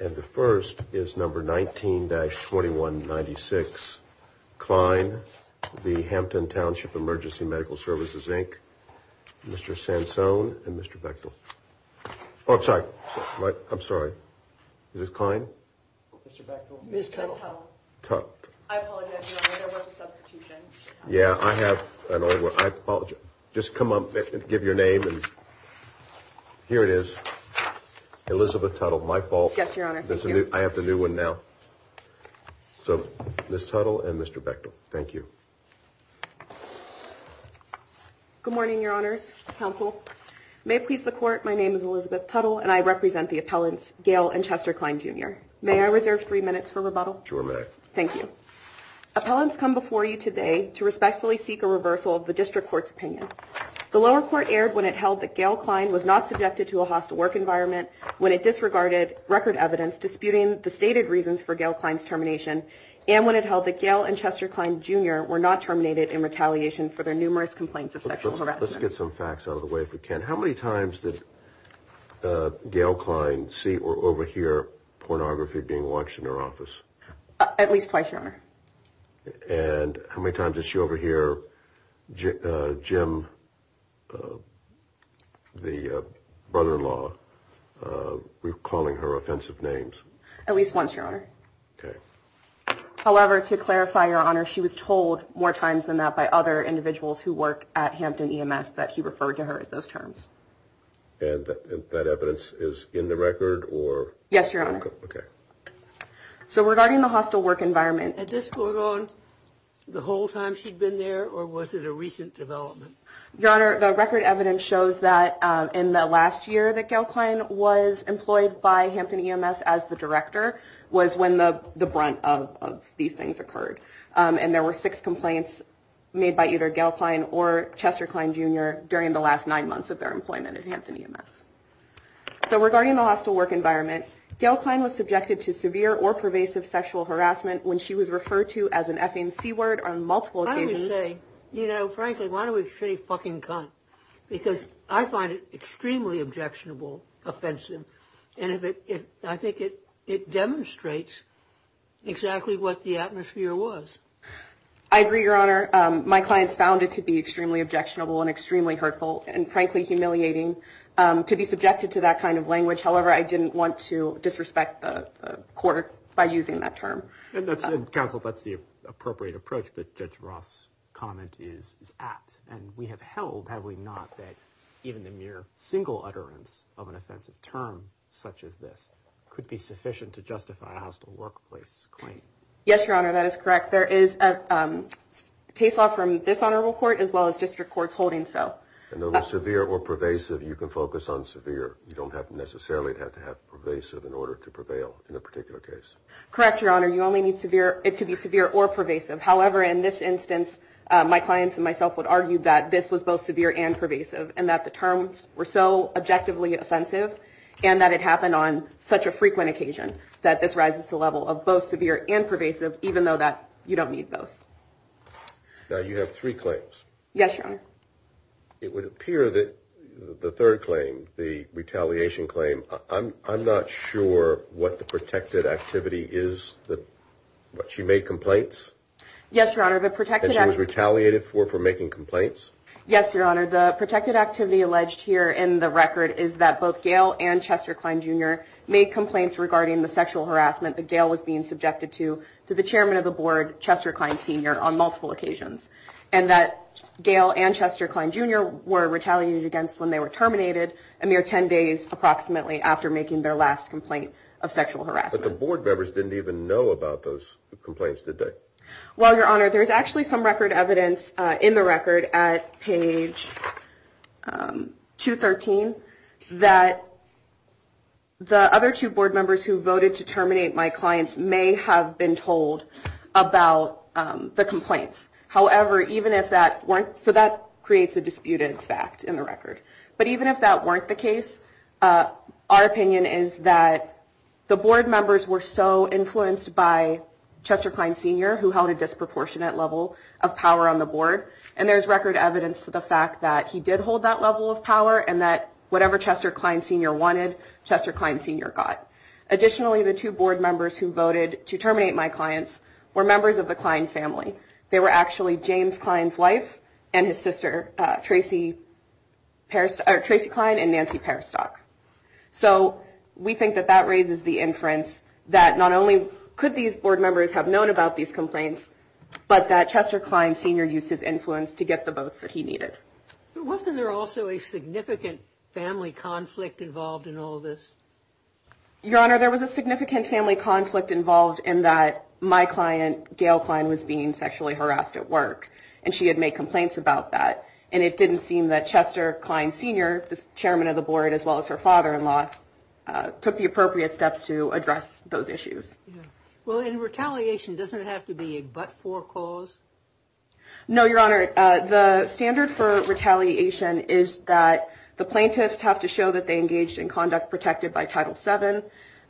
And the first is number 19-2196. Kline v. Hampton Township Emergency Medical Services, Inc. Mr. Sansone and Mr. Bechtel. Oh, I'm sorry. I'm sorry. Is this Kline? Mr. Bechtel. Ms. Tuttle. Tuttle. I apologize, Your Honor. There was a substitution. Yeah, I have an order. I apologize. Just come up and give your name. Here it is. Elizabeth Tuttle. My fault. Yes, Your Honor. Thank you. I have the new one now. So, Ms. Tuttle and Mr. Bechtel. Thank you. Good morning, Your Honors, Counsel. May it please the Court, my name is Elizabeth Tuttle and I represent the appellants Gail and Chester Kline, Jr. May I reserve three minutes for rebuttal? Sure, ma'am. Thank you. Appellants come before you today to respectfully seek a reversal of the District Court's opinion. The lower court erred when it held that Gail Kline was not subjected to a hostile work environment, when it disregarded record evidence disputing the stated reasons for Gail Kline's termination, and when it held that Gail and Chester Kline, Jr. were not terminated in retaliation for their numerous complaints of sexual harassment. Let's get some facts out of the way if we can. How many times did Gail Kline see or overhear pornography being watched in her office? At least twice, Your Honor. And how many times did she overhear Jim, the brother-in-law, recalling her offensive names? At least once, Your Honor. Okay. However, to clarify, Your Honor, she was told more times than that by other individuals who work at Hampton EMS that he referred to her as those terms. And that evidence is in the record or? Yes, Your Honor. Okay. So regarding the hostile work environment. Had this gone on the whole time she'd been there, or was it a recent development? Your Honor, the record evidence shows that in the last year that Gail Kline was employed by Hampton EMS as the director was when the brunt of these things occurred. And there were six complaints made by either Gail Kline or Chester Kline, Jr. during the last nine months of their employment at Hampton EMS. So regarding the hostile work environment, Gail Kline was subjected to severe or pervasive sexual harassment when she was referred to as an FNC word on multiple occasions. I would say, you know, frankly, why don't we say fucking cunt? Because I find it extremely objectionable, offensive. And I think it demonstrates exactly what the atmosphere was. I agree, Your Honor. My clients found it to be extremely objectionable and extremely hurtful and, frankly, humiliating to be subjected to that kind of language. However, I didn't want to disrespect the court by using that term. Counsel, that's the appropriate approach that Judge Roth's comment is at. And we have held, have we not, that even the mere single utterance of an offensive term such as this could be sufficient to justify a hostile workplace claim. Yes, Your Honor. That is correct. There is a case law from this honorable court as well as district courts holding so. And over severe or pervasive, you can focus on severe. You don't necessarily have to have pervasive in order to prevail in a particular case. Correct, Your Honor. You only need it to be severe or pervasive. However, in this instance, my clients and myself would argue that this was both severe and pervasive and that the terms were so objectively offensive and that it happened on such a frequent occasion that this rises to a level of both severe and pervasive, even though that you don't need both. Now, you have three claims. Yes, Your Honor. It would appear that the third claim, the retaliation claim, I'm not sure what the protected activity is that what she made complaints. Yes, Your Honor. The protected retaliated for for making complaints. Yes, Your Honor. The protected activity alleged here in the record is that both Gail and Chester Cline, Jr. made complaints regarding the sexual harassment that Gail was being subjected to to the chairman of the board, Chester Cline, Sr., on multiple occasions, and that Gail and Chester Cline, Jr. were retaliated against when they were terminated a mere 10 days approximately after making their last complaint of sexual harassment. But the board members didn't even know about those complaints, did they? Well, Your Honor, there's actually some record evidence in the record at page 213 that. The other two board members who voted to terminate my clients may have been told about the complaints. However, even if that weren't so, that creates a disputed fact in the record. But even if that weren't the case, our opinion is that the board members were so influenced by Chester Cline, Sr., who held a disproportionate level of power on the board. And there's record evidence to the fact that he did hold that level of power and that whatever Chester Cline, Sr. wanted, Chester Cline, Sr. got. Additionally, the two board members who voted to terminate my clients were members of the Cline family. They were actually James Cline's wife and his sister, Tracy Cline and Nancy Peristock. So we think that that raises the inference that not only could these board members have known about these complaints, but that Chester Cline, Sr. used his influence to get the votes that he needed. Wasn't there also a significant family conflict involved in all of this? Your Honor, there was a significant family conflict involved in that my client, Gail Cline, was being sexually harassed at work and she had made complaints about that. And it didn't seem that Chester Cline, Sr., the chairman of the board, as well as her father-in-law, took the appropriate steps to address those issues. Well, in retaliation, doesn't it have to be a but-for clause? No, Your Honor. The standard for retaliation is that the plaintiffs have to show that they engaged in conduct protected by Title VII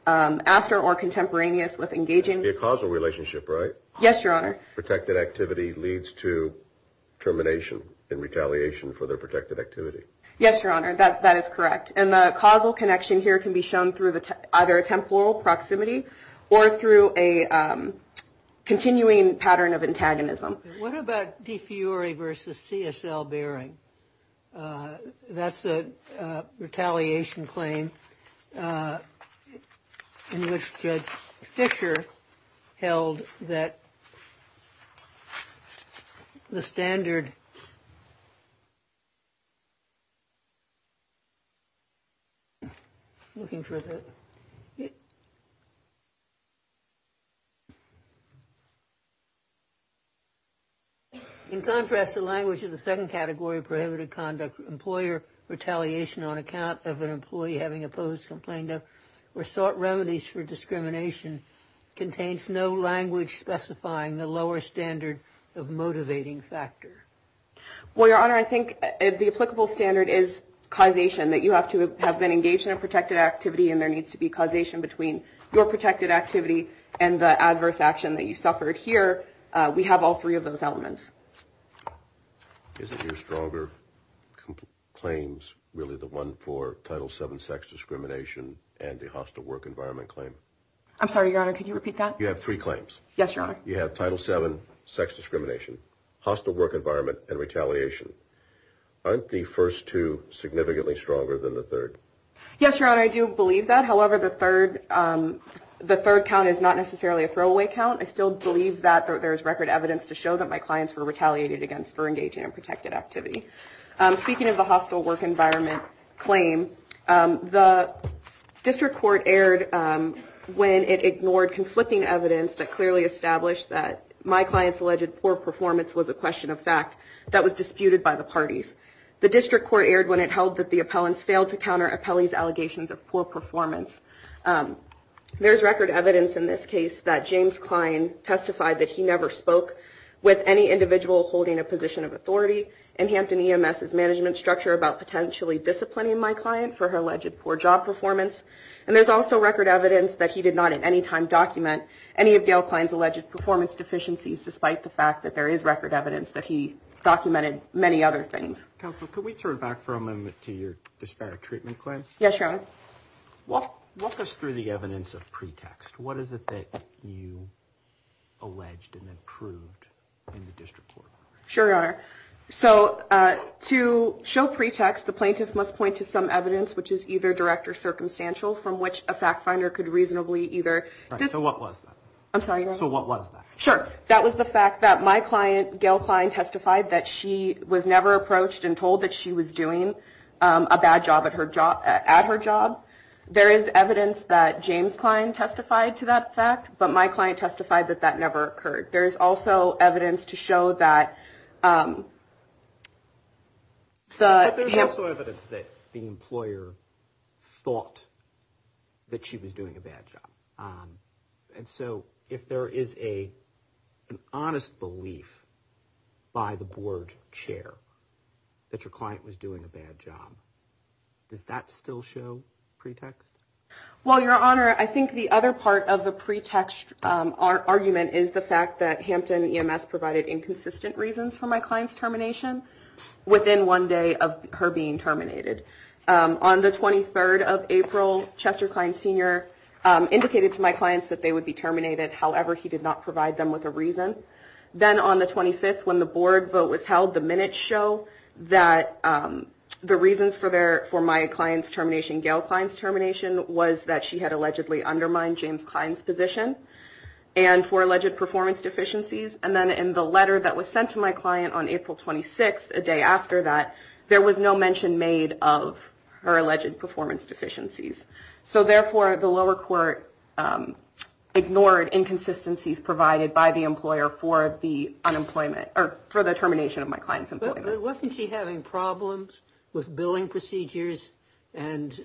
after or contemporaneous with engaging. A causal relationship, right? Yes, Your Honor. Protected activity leads to termination and retaliation for their protected activity. Yes, Your Honor. That is correct. And the causal connection here can be shown through either a temporal proximity or through a continuing pattern of antagonism. What about defiore versus CSL bearing? That's a retaliation claim in which Judge Fischer held that the standard... Looking for the... In contrast, the language of the second category of prohibited conduct employer retaliation on account of an employee having opposed complaint or sought remedies for discrimination contains no language specifying the lower standard of motivating factor. Well, Your Honor, I think the applicable standard is causation, that you have to have been engaged in a protected activity and there needs to be causation between your protected activity and the adverse action that you suffered here. We have all three of those elements. Isn't your stronger claims really the one for Title VII sex discrimination and the hostile work environment claim? I'm sorry, Your Honor. Could you repeat that? You have three claims. Yes, Your Honor. You have Title VII sex discrimination, hostile work environment, and retaliation. Aren't the first two significantly stronger than the third? Yes, Your Honor. I do believe that. However, the third count is not necessarily a throwaway count. I still believe that there is record evidence to show that my clients were retaliated against for engaging in protected activity. Speaking of the hostile work environment claim, the district court erred when it ignored conflicting evidence that clearly established that my clients alleged poor performance was a question of fact that was disputed by the parties. The district court erred when it held that the appellants failed to counter appellees' allegations of poor performance. There's record evidence in this case that James Klein testified that he never spoke with any individual holding a position of authority in Hampton EMS's management structure about potentially disciplining my client for her alleged poor job performance. And there's also record evidence that he did not at any time document any of Gail Klein's alleged performance deficiencies, despite the fact that there is record evidence that he documented many other things. Counsel, could we turn back for a moment to your disparate treatment claim? Yes, Your Honor. Walk us through the evidence of pretext. What is it that you alleged and then proved in the district court? Sure, Your Honor. So to show pretext, the plaintiff must point to some evidence, which is either direct or circumstantial, from which a fact finder could reasonably either So what was that? I'm sorry, Your Honor. So what was that? Sure. That was the fact that my client, Gail Klein, testified that she was never approached and told that she was doing a bad job at her job. There is evidence that James Klein testified to that fact, but my client testified that that never occurred. There is also evidence to show that the But there's also evidence that the employer thought that she was doing a bad job. And so if there is an honest belief by the board chair that your client was doing a bad job, does that still show pretext? Well, Your Honor, I think the other part of the pretext argument is the fact that Hampton EMS provided inconsistent reasons for my client's termination within one day of her being terminated. On the 23rd of April, Chester Klein Sr. indicated to my clients that they would be terminated. However, he did not provide them with a reason. Then on the 25th, when the board vote was held, the minutes show that the reasons for my client's termination, Gail Klein's termination, was that she had allegedly undermined James Klein's position and for alleged performance deficiencies. And then in the letter that was sent to my client on April 26th, a day after that, there was no mention made of her alleged performance deficiencies. So therefore, the lower court ignored inconsistencies provided by the employer for the unemployment or for the termination of my clients. Wasn't she having problems with billing procedures and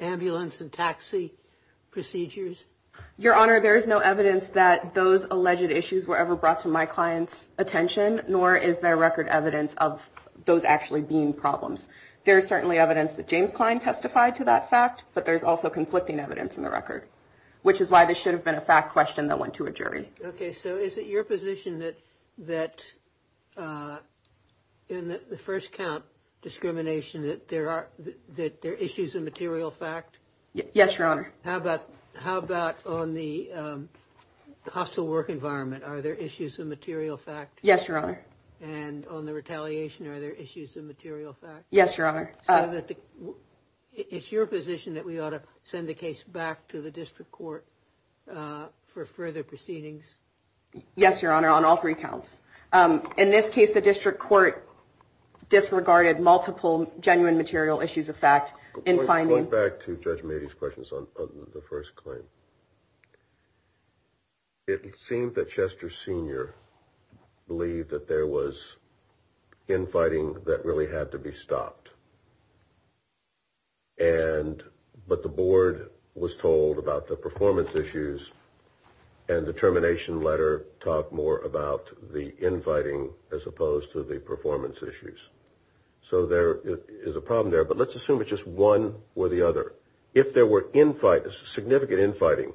ambulance and taxi procedures? Your Honor, there is no evidence that those alleged issues were ever brought to my client's attention, nor is there record evidence of those actually being problems. There is certainly evidence that James Klein testified to that fact, but there's also conflicting evidence in the record, which is why this should have been a fact question that went to a jury. OK, so is it your position that that in the first count discrimination that there are that there are issues of material fact? Yes, Your Honor. How about how about on the hostile work environment? Are there issues of material fact? Yes, Your Honor. And on the retaliation, are there issues of material fact? Yes, Your Honor. It's your position that we ought to send the case back to the district court for further proceedings? Yes, Your Honor, on all three counts. In this case, the district court disregarded multiple genuine material issues of fact. In finding back to Judge Mady's questions on the first claim. It seemed that Chester Senior believed that there was infighting that really had to be stopped. And but the board was told about the performance issues and the termination letter. Talk more about the infighting as opposed to the performance issues. So there is a problem there, but let's assume it's just one or the other. If there were infighting, significant infighting,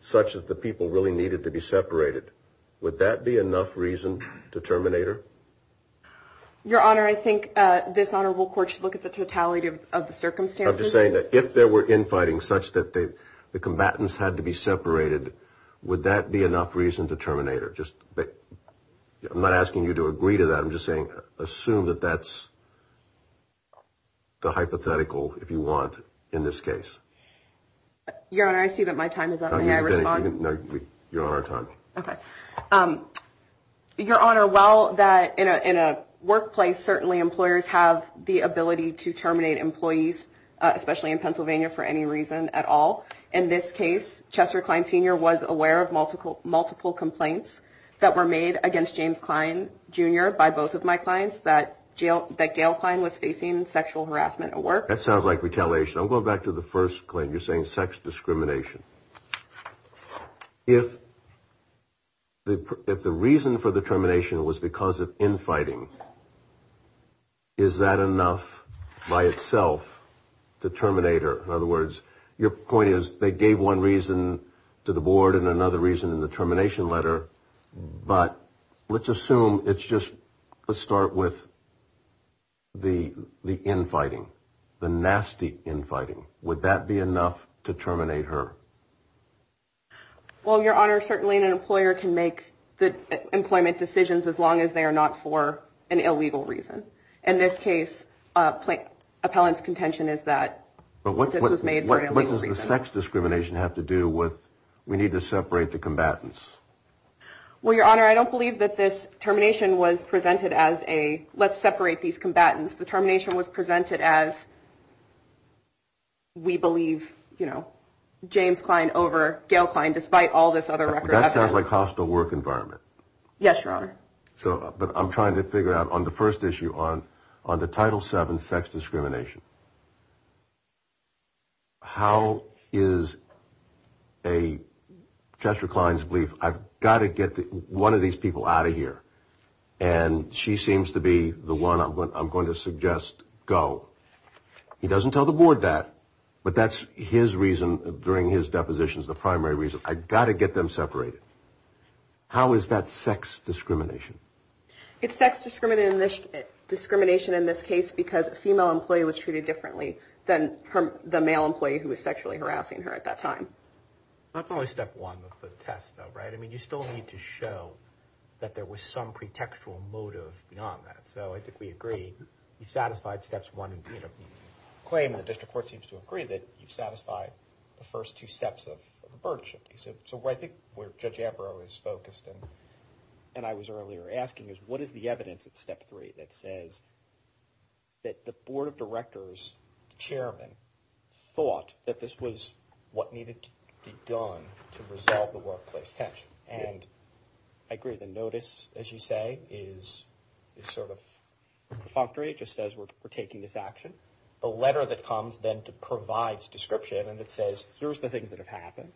such as the people really needed to be separated. Would that be enough reason to terminate her? Your Honor, I think this honorable court should look at the totality of the circumstances. I'm just saying that if there were infighting such that the combatants had to be separated, would that be enough reason to terminate her? Just I'm not asking you to agree to that. I'm just saying assume that that's. The hypothetical, if you want, in this case. Your Honor, I see that my time is up. You're on time. OK. Your Honor, while that in a workplace, certainly employers have the ability to terminate employees, especially in Pennsylvania, for any reason at all. In this case, Chester Klein, Sr. was aware of multiple multiple complaints that were made against James Klein, Jr. by both of my clients that jail that Gail Klein was facing sexual harassment at work. That sounds like retaliation. I'm going back to the first claim. You're saying sex discrimination. If. If the reason for the termination was because of infighting. Is that enough by itself to terminate her? In other words, your point is they gave one reason to the board and another reason in the termination letter. But let's assume it's just a start with. The the infighting, the nasty infighting, would that be enough to terminate her? Well, Your Honor, certainly an employer can make the employment decisions as long as they are not for an illegal reason. In this case, appellants contention is that this was made. What does the sex discrimination have to do with we need to separate the combatants? Well, Your Honor, I don't believe that this termination was presented as a let's separate these combatants. The termination was presented as. We believe, you know, James Klein over Gail Klein, despite all this other record. So I'm trying to figure out on the first issue on on the title seven sex discrimination. How is. A Chester Klein's belief. I've got to get one of these people out of here. And she seems to be the one I'm going to suggest. Go. He doesn't tell the board that. But that's his reason. During his depositions, the primary reason I got to get them separated. How is that sex discrimination? It's sex discrimination. Discrimination in this case, because a female employee was treated differently than the male employee who was sexually harassing her at that time. That's only step one of the test, though, right? I mean, you still need to show that there was some pretextual motive beyond that. So I think we agree. We've satisfied steps one. Claim in the district court seems to agree that you've satisfied the first two steps of the burden. So I think where Judge Averill is focused and and I was earlier asking is what is the evidence at step three that says. That the board of directors chairman thought that this was what needed to be done to resolve the workplace tension. And I agree. The notice, as you say, is sort of functory. It just says we're taking this action. The letter that comes then to provides description. And it says, here's the things that have happened.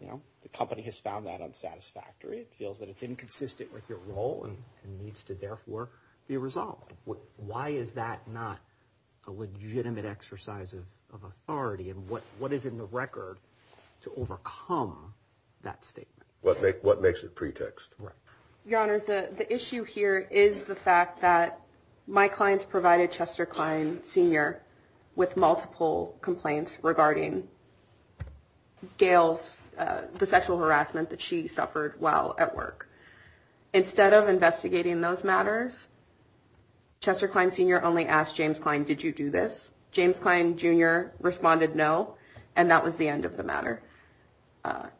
You know, the company has found that unsatisfactory. It feels that it's inconsistent with your role and needs to therefore be resolved. Why is that not a legitimate exercise of authority? And what what is in the record to overcome that statement? What makes it pretext for your honors? The issue here is the fact that my clients provided Chester Klein Senior with multiple complaints regarding. Gail's the sexual harassment that she suffered while at work instead of investigating those matters. Chester Klein Senior only asked James Klein, did you do this? James Klein Junior responded, no. And that was the end of the matter.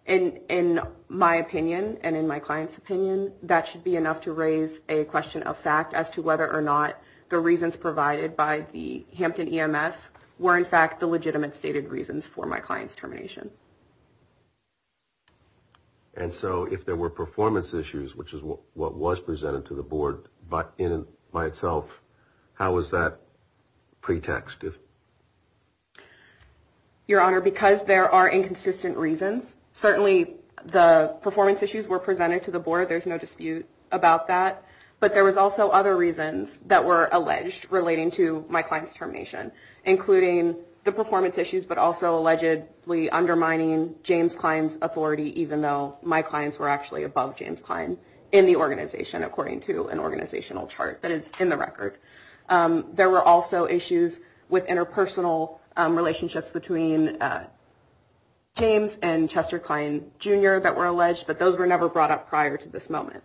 And in my opinion, and in my client's opinion, that should be enough to raise a question of fact as to whether or not the reasons provided by the Hampton EMS were, in fact, the legitimate stated reasons for my client's termination. And so if there were performance issues, which is what was presented to the board, but in by itself, how is that pretext? If your honor, because there are inconsistent reasons, certainly the performance issues were presented to the board. There's no dispute about that. But there was also other reasons that were alleged relating to my client's termination, including the performance issues, but also allegedly undermining James Klein's authority, even though my clients were actually above James Klein in the organization, according to an organizational chart that is in the record. There were also issues with interpersonal relationships between James and Chester Klein Junior that were alleged. But those were never brought up prior to this moment.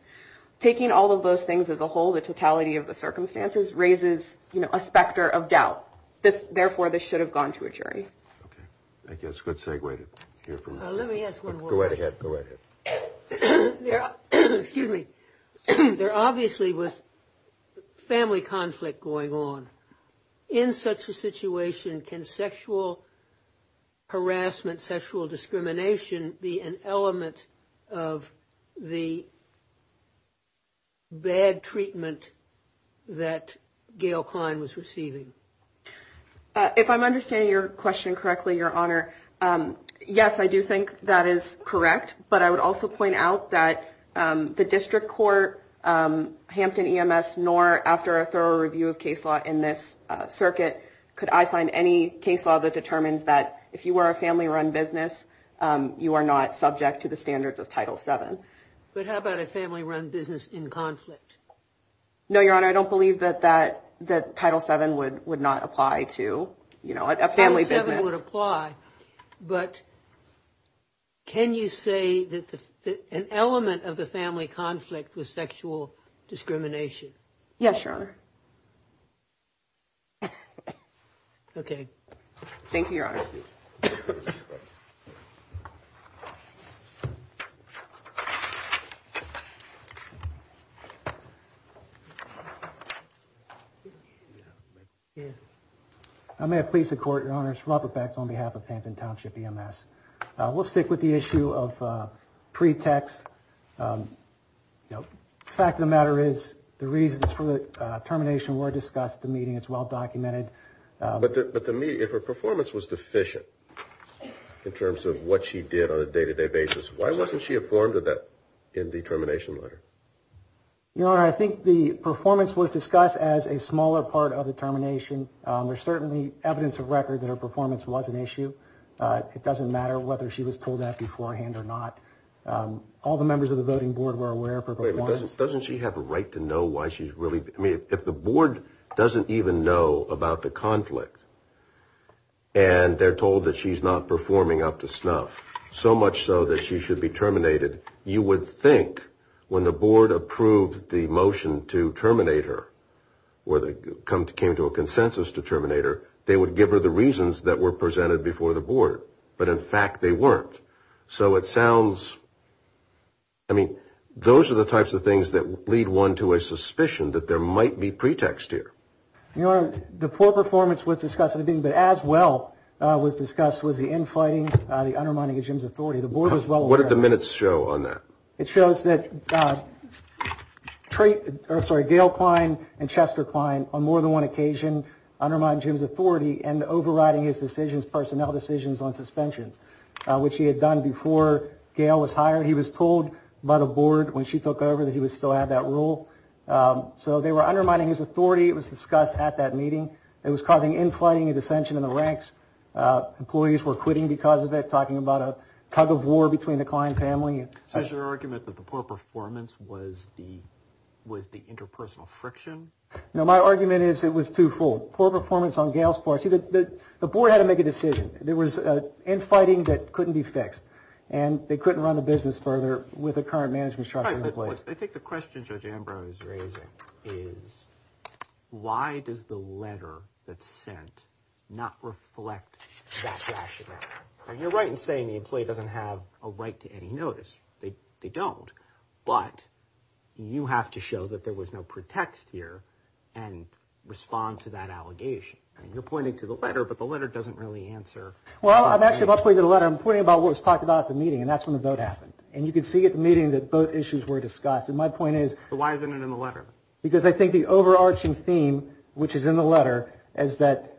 Taking all of those things as a whole, the totality of the circumstances, raises a specter of doubt. Therefore, this should have gone to a jury. Thank you. That's a good segue to hear from you. Let me ask one more question. Go right ahead. Go right ahead. Excuse me. There obviously was family conflict going on. In such a situation, can sexual harassment, sexual discrimination be an element of the bad treatment that Gail Klein was receiving? If I'm understanding your question correctly, Your Honor, yes, I do think that is correct. But I would also point out that the district court, Hampton EMS, nor after a thorough review of case law in this circuit, could I find any case law that determines that if you were a family run business, you are not subject to the standards of Title seven. But how about a family run business in conflict? No, Your Honor, I don't believe that that that Title seven would would not apply to, you know, a family business would apply. But can you say that an element of the family conflict was sexual discrimination? Yes, Your Honor. OK. Thank you, Your Honor. I may have pleased to court, Your Honor, Robert Beck on behalf of Hampton Township EMS. We'll stick with the issue of pretext. The fact of the matter is the reasons for the termination were discussed the meeting as well documented. But to me, if her performance was deficient in terms of what she did on a day to day basis, why wasn't she informed of that in the termination letter? Your Honor, I think the performance was discussed as a smaller part of the termination. There's certainly evidence of record that her performance was an issue. It doesn't matter whether she was told that beforehand or not. All the members of the voting board were aware of her performance. Doesn't she have a right to know why she's really? I mean, if the board doesn't even know about the conflict. And they're told that she's not performing up to snuff so much so that she should be terminated. You would think when the board approved the motion to terminate her or they come to came to a consensus to terminate her. They would give her the reasons that were presented before the board. But in fact, they weren't. So it sounds. I mean, those are the types of things that lead one to a suspicion that there might be pretext here. Your Honor, the poor performance was discussed. But as well was discussed was the infighting, the undermining of Jim's authority. The board was well aware of that. What did the minutes show on that? It shows that Gail Klein and Chester Klein on more than one occasion undermined Jim's authority and overriding his decisions, personnel decisions on suspensions, which he had done before Gail was hired. He was told by the board when she took over that he would still have that rule. So they were undermining his authority. It was discussed at that meeting. It was causing infighting and dissension in the ranks. Employees were quitting because of it, talking about a tug of war between the Klein family. So is your argument that the poor performance was the interpersonal friction? No, my argument is it was twofold. Poor performance on Gail's part. See, the board had to make a decision. There was infighting that couldn't be fixed. And they couldn't run the business further with the current management structure in place. I think the question Judge Ambrose is raising is why does the letter that's sent not reflect that rationale? You're right in saying the employee doesn't have a right to any notice. They don't. But you have to show that there was no pretext here and respond to that allegation. And you're pointing to the letter, but the letter doesn't really answer. Well, I'm actually not pointing to the letter. I'm pointing about what was talked about at the meeting, and that's when the vote happened. And you can see at the meeting that both issues were discussed. And my point is. So why isn't it in the letter? Because I think the overarching theme, which is in the letter, is that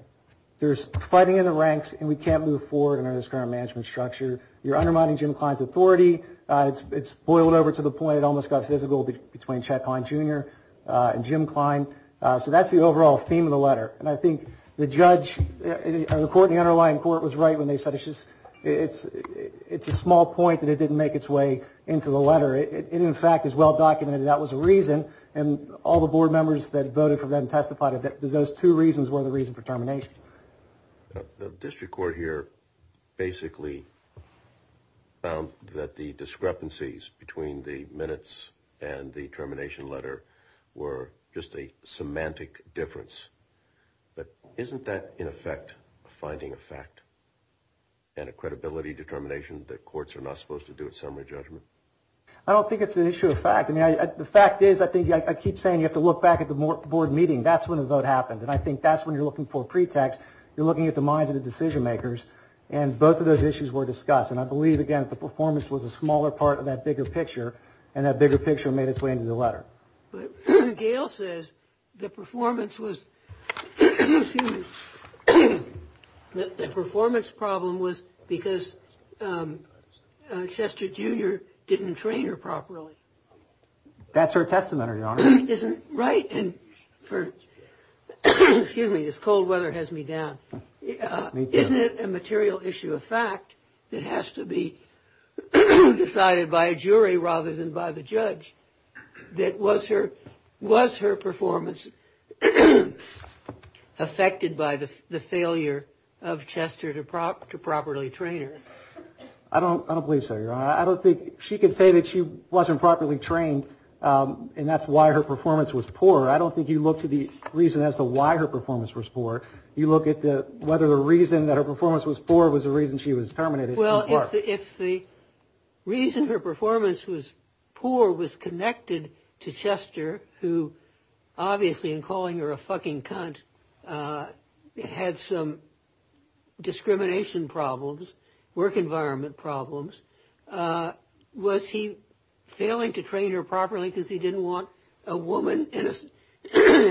there's fighting in the ranks, and we can't move forward under this current management structure. You're undermining Jim Klein's authority. It's boiled over to the point it almost got physical between Chad Klein Jr. and Jim Klein. So that's the overall theme of the letter. And I think the judge, or the court in the underlying court, was right when they said it's a small point that it didn't make its way into the letter. It, in fact, is well-documented. That was a reason. And all the board members that voted for that testified that those two reasons were the reason for termination. The district court here basically found that the discrepancies between the minutes and the termination letter were just a semantic difference. But isn't that, in effect, a finding of fact and a credibility determination that courts are not supposed to do at summary judgment? I don't think it's an issue of fact. The fact is, I think, I keep saying you have to look back at the board meeting. That's when the vote happened. And I think that's when you're looking for a pretext. You're looking at the minds of the decision makers. And both of those issues were discussed. And I believe, again, that the performance was a smaller part of that bigger picture. And that bigger picture made its way into the letter. But Gail says the performance was, excuse me, the performance problem was because Chester Jr. didn't train her properly. That's her testament, Your Honor. Right. And for, excuse me, this cold weather has me down. Isn't it a material issue of fact that has to be decided by a jury rather than by the judge? That was her, was her performance affected by the failure of Chester to properly train her? I don't, I don't believe so, Your Honor. I don't think she can say that she wasn't properly trained. And that's why her performance was poor. I don't think you look to the reason as to why her performance was poor. You look at the whether the reason that her performance was poor was the reason she was terminated. Well, if the reason her performance was poor was connected to Chester, who obviously in calling her a fucking cunt, had some discrimination problems, work environment problems. Was he failing to train her properly because he didn't want a woman in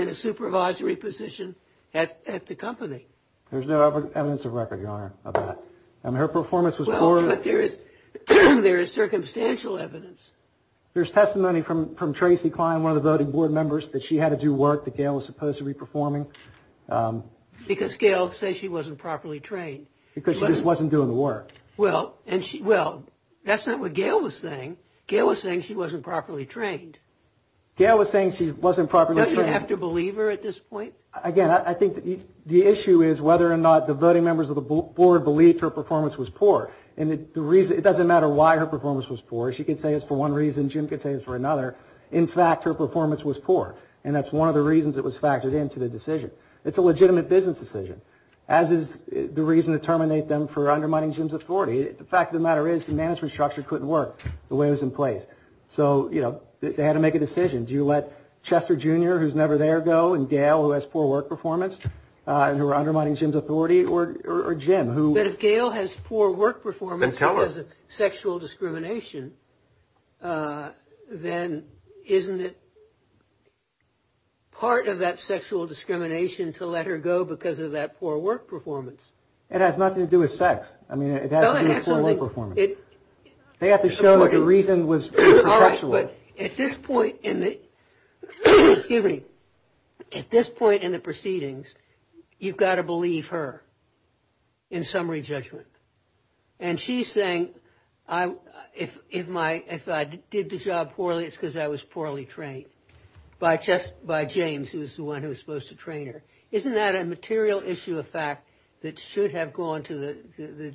a supervisory position at the company? There's no evidence of record, Your Honor, of that. And her performance was poor. But there is, there is circumstantial evidence. There's testimony from Tracy Klein, one of the voting board members, that she had to do work that Gail was supposed to be performing. Because Gail says she wasn't properly trained. Because she just wasn't doing the work. Well, and she, well, that's not what Gail was saying. Gail was saying she wasn't properly trained. Gail was saying she wasn't properly trained. Don't you have to believe her at this point? Again, I think the issue is whether or not the voting members of the board believed her performance was poor. And the reason, it doesn't matter why her performance was poor. She could say it's for one reason. Jim could say it's for another. In fact, her performance was poor. And that's one of the reasons it was factored into the decision. It's a legitimate business decision, as is the reason to terminate them for undermining Jim's authority. The fact of the matter is the management structure couldn't work the way it was in place. So, you know, they had to make a decision. Do you let Chester, Jr., who's never there, go? And Gail, who has poor work performance? And who are undermining Jim's authority? Or Jim? But if Gail has poor work performance. Then tell her. Or has sexual discrimination, then isn't it part of that sexual discrimination to let her go because of that poor work performance? It has nothing to do with sex. I mean, it has to do with poor work performance. They have to show that the reason was perpetual. But at this point in the proceedings, you've got to believe her in summary judgment. And she's saying if I did the job poorly, it's because I was poorly trained by James, who was the one who was supposed to train her. Isn't that a material issue of fact that should have gone to the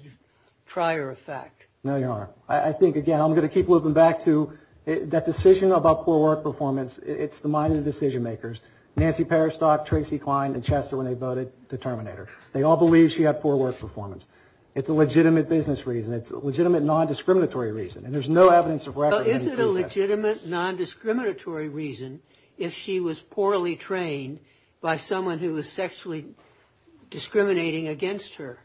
trier of fact? No, Your Honor. I think, again, I'm going to keep looping back to that decision about poor work performance. It's the mind of the decision makers, Nancy Perestock, Tracy Klein, and Chester, when they voted to terminate her. They all believe she had poor work performance. It's a legitimate business reason. It's a legitimate non-discriminatory reason. And there's no evidence of record. Well, is it a legitimate non-discriminatory reason if she was poorly trained by someone who was sexually discriminating against her?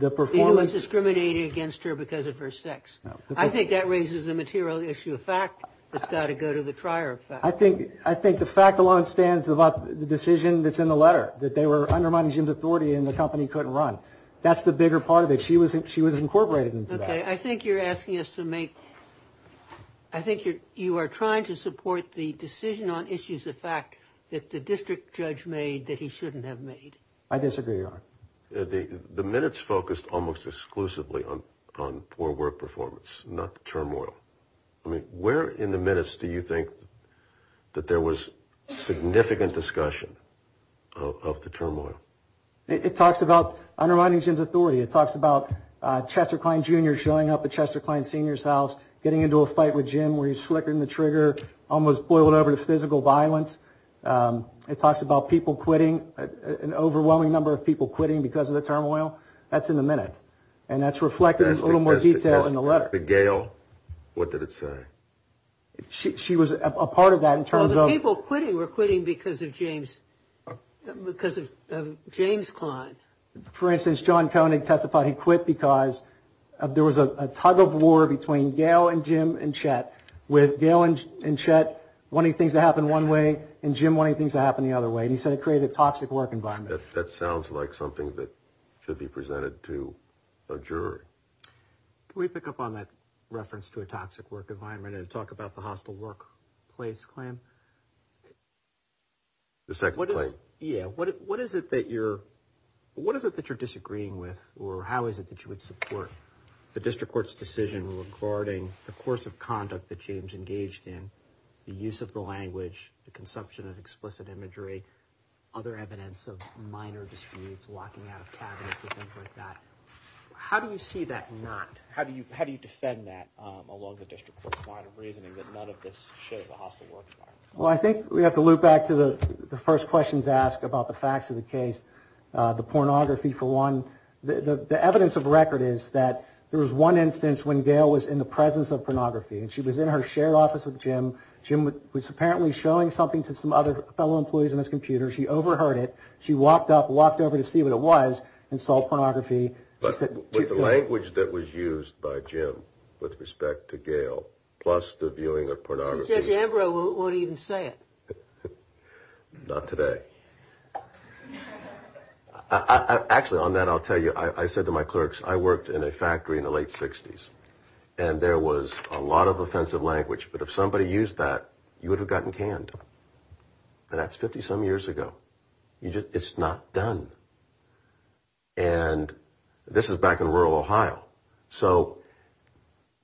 He was discriminating against her because of her sex. I think that raises a material issue of fact that's got to go to the trier of fact. I think the fact alone stands about the decision that's in the letter, that they were undermining Jim's authority and the company couldn't run. That's the bigger part of it. She was incorporated into that. Okay. I think you're asking us to make – I think you are trying to support the decision on issues of fact that the district judge made that he shouldn't have made. I disagree, Your Honor. The minutes focused almost exclusively on poor work performance, not the turmoil. I mean, where in the minutes do you think that there was significant discussion of the turmoil? It talks about undermining Jim's authority. It talks about Chester Kline, Jr. showing up at Chester Kline Senior's house, getting into a fight with Jim where he's flickering the trigger, almost boiled over to physical violence. It talks about people quitting, an overwhelming number of people quitting because of the turmoil. That's in the minutes. And that's reflected in a little more detail in the letter. The Gale, what did it say? She was a part of that in terms of – Well, the people quitting were quitting because of James Kline. For instance, John Koenig testified he quit because there was a tug of war between Gale and Jim and Chet. With Gale and Chet wanting things to happen one way and Jim wanting things to happen the other way. And he said it created a toxic work environment. That sounds like something that should be presented to a jury. Can we pick up on that reference to a toxic work environment and talk about the hostile workplace claim? The second claim. Yeah, what is it that you're – what is it that you're disagreeing with or how is it that you would support the district court's decision regarding the course of conduct that James engaged in, the use of the language, the consumption of explicit imagery, other evidence of minor disputes, locking out of cabinets and things like that? How do you see that not – how do you defend that along the district court's line of reasoning that none of this shows a hostile work environment? Well, I think we have to loop back to the first questions asked about the facts of the case. The pornography for one. The evidence of record is that there was one instance when Gale was in the presence of pornography and she was in her shared office with Jim. Jim was apparently showing something to some other fellow employees on his computer. She overheard it. She walked up, walked over to see what it was and saw pornography. But with the language that was used by Jim with respect to Gale plus the viewing of pornography. Chet Ambrose won't even say it. Not today. Actually, on that I'll tell you. I said to my clerks, I worked in a factory in the late 60s and there was a lot of offensive language, but if somebody used that, you would have gotten canned. And that's 50-some years ago. It's not done. And this is back in rural Ohio. So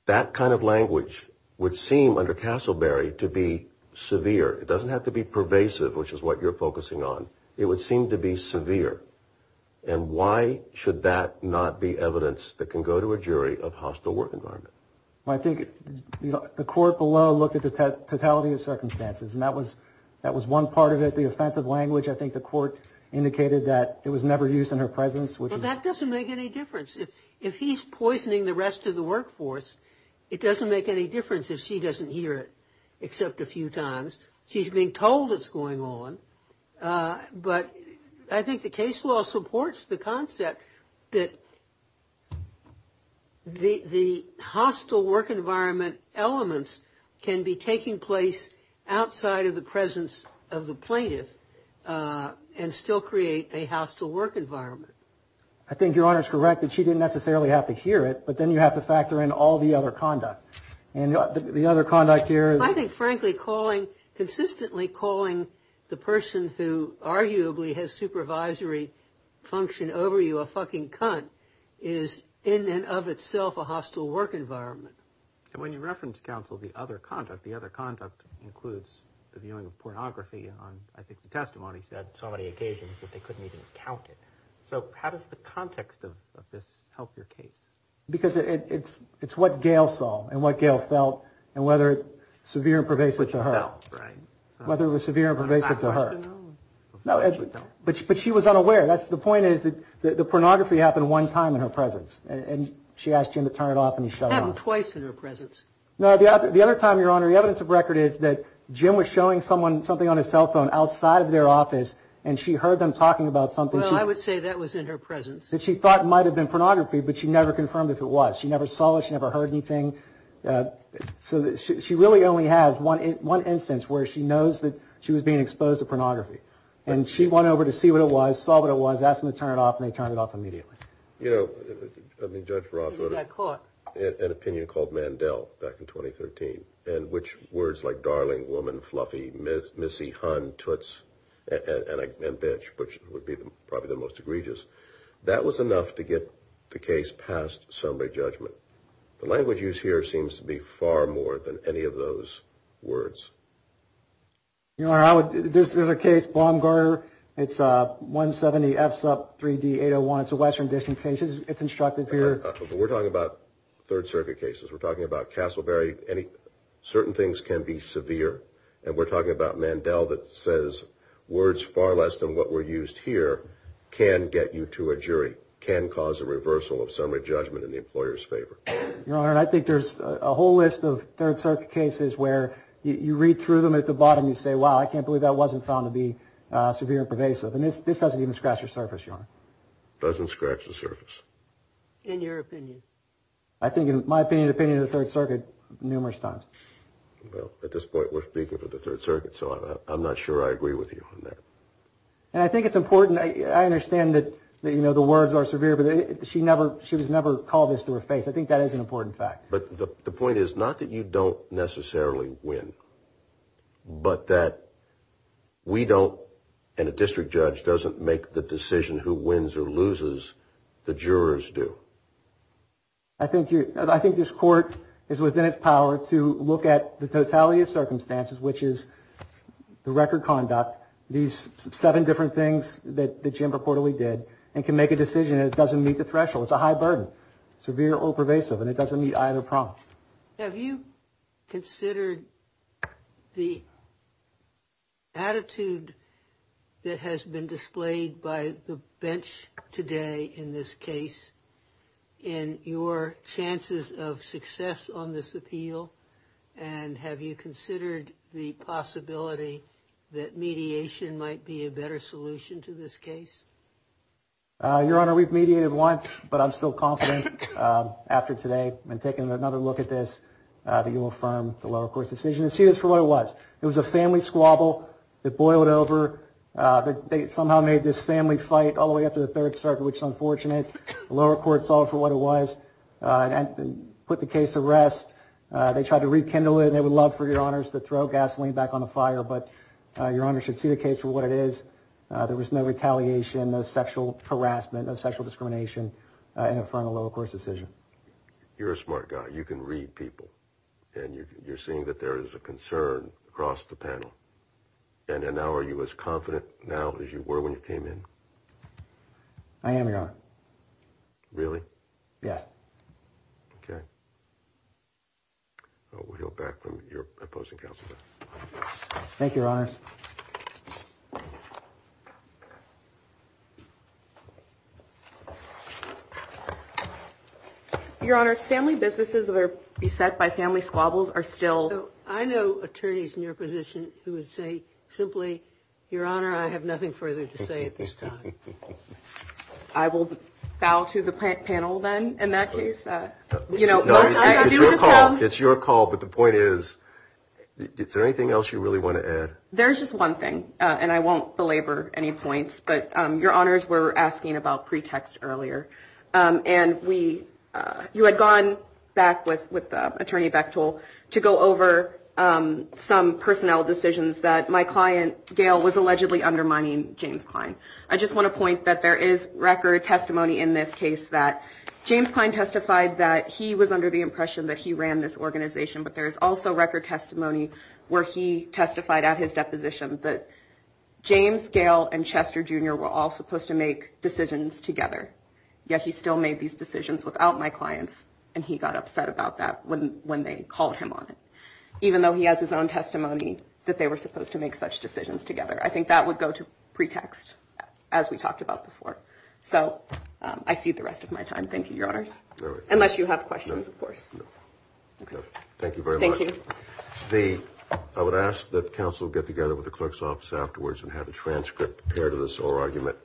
that kind of language would seem under Castleberry to be severe. It doesn't have to be pervasive, which is what you're focusing on. It would seem to be severe. And why should that not be evidence that can go to a jury of hostile work environment? Well, I think the court below looked at the totality of circumstances and that was one part of it, the offensive language. I think the court indicated that it was never used in her presence. Well, that doesn't make any difference. If he's poisoning the rest of the workforce, it doesn't make any difference if she doesn't hear it, except a few times. She's being told it's going on. But I think the case law supports the concept that the hostile work environment elements can be taking place outside of the presence of the plaintiff and still create a hostile work environment. I think Your Honor is correct that she didn't necessarily have to hear it, but then you have to factor in all the other conduct. And the other conduct here is... I think frankly calling, consistently calling the person who arguably has supervisory function over you a fucking cunt is in and of itself a hostile work environment. And when you reference counsel the other conduct, the other conduct includes the viewing of pornography on, I think, the testimony said so many occasions that they couldn't even count it. So how does the context of this help your case? Because it's what Gail saw and what Gail felt and whether it's severe and pervasive to her. Whether it was severe and pervasive to her. But she was unaware. The point is that the pornography happened one time in her presence and she asked Jim to turn it off and he shut it off. It happened twice in her presence. No, the other time, Your Honor, the evidence of record is that Jim was showing someone something on his cell phone outside of their office and she heard them talking about something... Well, I would say that was in her presence. ...that she thought might have been pornography, but she never confirmed if it was. She never saw it. She never heard anything. So she really only has one instance where she knows that she was being exposed to pornography. And she went over to see what it was, saw what it was, asked them to turn it off, and they turned it off immediately. You know, Judge Ross wrote an opinion called Mandel back in 2013, in which words like darling, woman, fluffy, missy, hun, toots, and bitch, which would be probably the most egregious, that was enough to get the case past summary judgment. The language used here seems to be far more than any of those words. Your Honor, there's another case, Baumgartner. It's 170F3D801. It's a Western edition case. It's instructed here. We're talking about Third Circuit cases. We're talking about Castleberry. Certain things can be severe. And we're talking about Mandel that says words far less than what were used here can get you to a jury, can cause a reversal of summary judgment in the employer's favor. Your Honor, I think there's a whole list of Third Circuit cases where you read through them at the bottom. You say, wow, I can't believe that wasn't found to be severe and pervasive. And this doesn't even scratch the surface, Your Honor. It doesn't scratch the surface. In your opinion. I think in my opinion, the opinion of the Third Circuit numerous times. Well, at this point, we're speaking for the Third Circuit. So I'm not sure I agree with you on that. And I think it's important. I understand that, you know, the words are severe, but she was never called this to her face. I think that is an important fact. But the point is not that you don't necessarily win, but that we don't and a district judge doesn't make the decision who wins or loses. The jurors do. I think this Court is within its power to look at the totality of circumstances, which is the record conduct, these seven different things that Jim reportedly did, and can make a decision that doesn't meet the threshold. It's a high burden, severe or pervasive, and it doesn't meet either problem. Have you considered the attitude that has been displayed by the bench today in this case in your chances of success on this appeal? And have you considered the possibility that mediation might be a better solution to this case? Your Honor, we've mediated once, but I'm still confident after today. I've been taking another look at this, that you will affirm the lower court's decision and see this for what it was. It was a family squabble that boiled over. They somehow made this family fight all the way up to the Third Circuit, which is unfortunate. The lower court solved for what it was and put the case to rest. They tried to rekindle it, and they would love for Your Honors to throw gasoline back on the fire, but Your Honors should see the case for what it is. There was no retaliation, no sexual harassment, no sexual discrimination in affirming the lower court's decision. You're a smart guy. You can read people, and you're seeing that there is a concern across the panel. And now are you as confident now as you were when you came in? I am, Your Honor. Really? Yes. Okay. We'll hear back from your opposing counsel then. Thank you, Your Honors. Your Honors, family businesses that are beset by family squabbles are still. I know attorneys in your position who would say simply, Your Honor, I have nothing further to say at this time. I will bow to the panel then in that case. It's your call, but the point is, is there anything else you really want to add? There's just one thing, and I won't belabor any points, but Your Honors were asking about pretext earlier, and you had gone back with Attorney Bechtol to go over some personnel decisions that my client, Gail, was allegedly undermining James Klein. I just want to point that there is record testimony in this case that James Klein testified that he was under the impression that he ran this organization, but there is also record testimony where he testified at his deposition that James, Gail, and Chester, Jr. were all supposed to make decisions together, yet he still made these decisions without my clients, and he got upset about that when they called him on it, even though he has his own testimony that they were supposed to make such decisions together. I think that would go to pretext, as we talked about before. So I cede the rest of my time. Thank you, Your Honors. Unless you have questions, of course. Okay. Thank you very much. Thank you. I would ask that counsel get together with the clerk's office afterwards and have a transcript compared to this whole argument.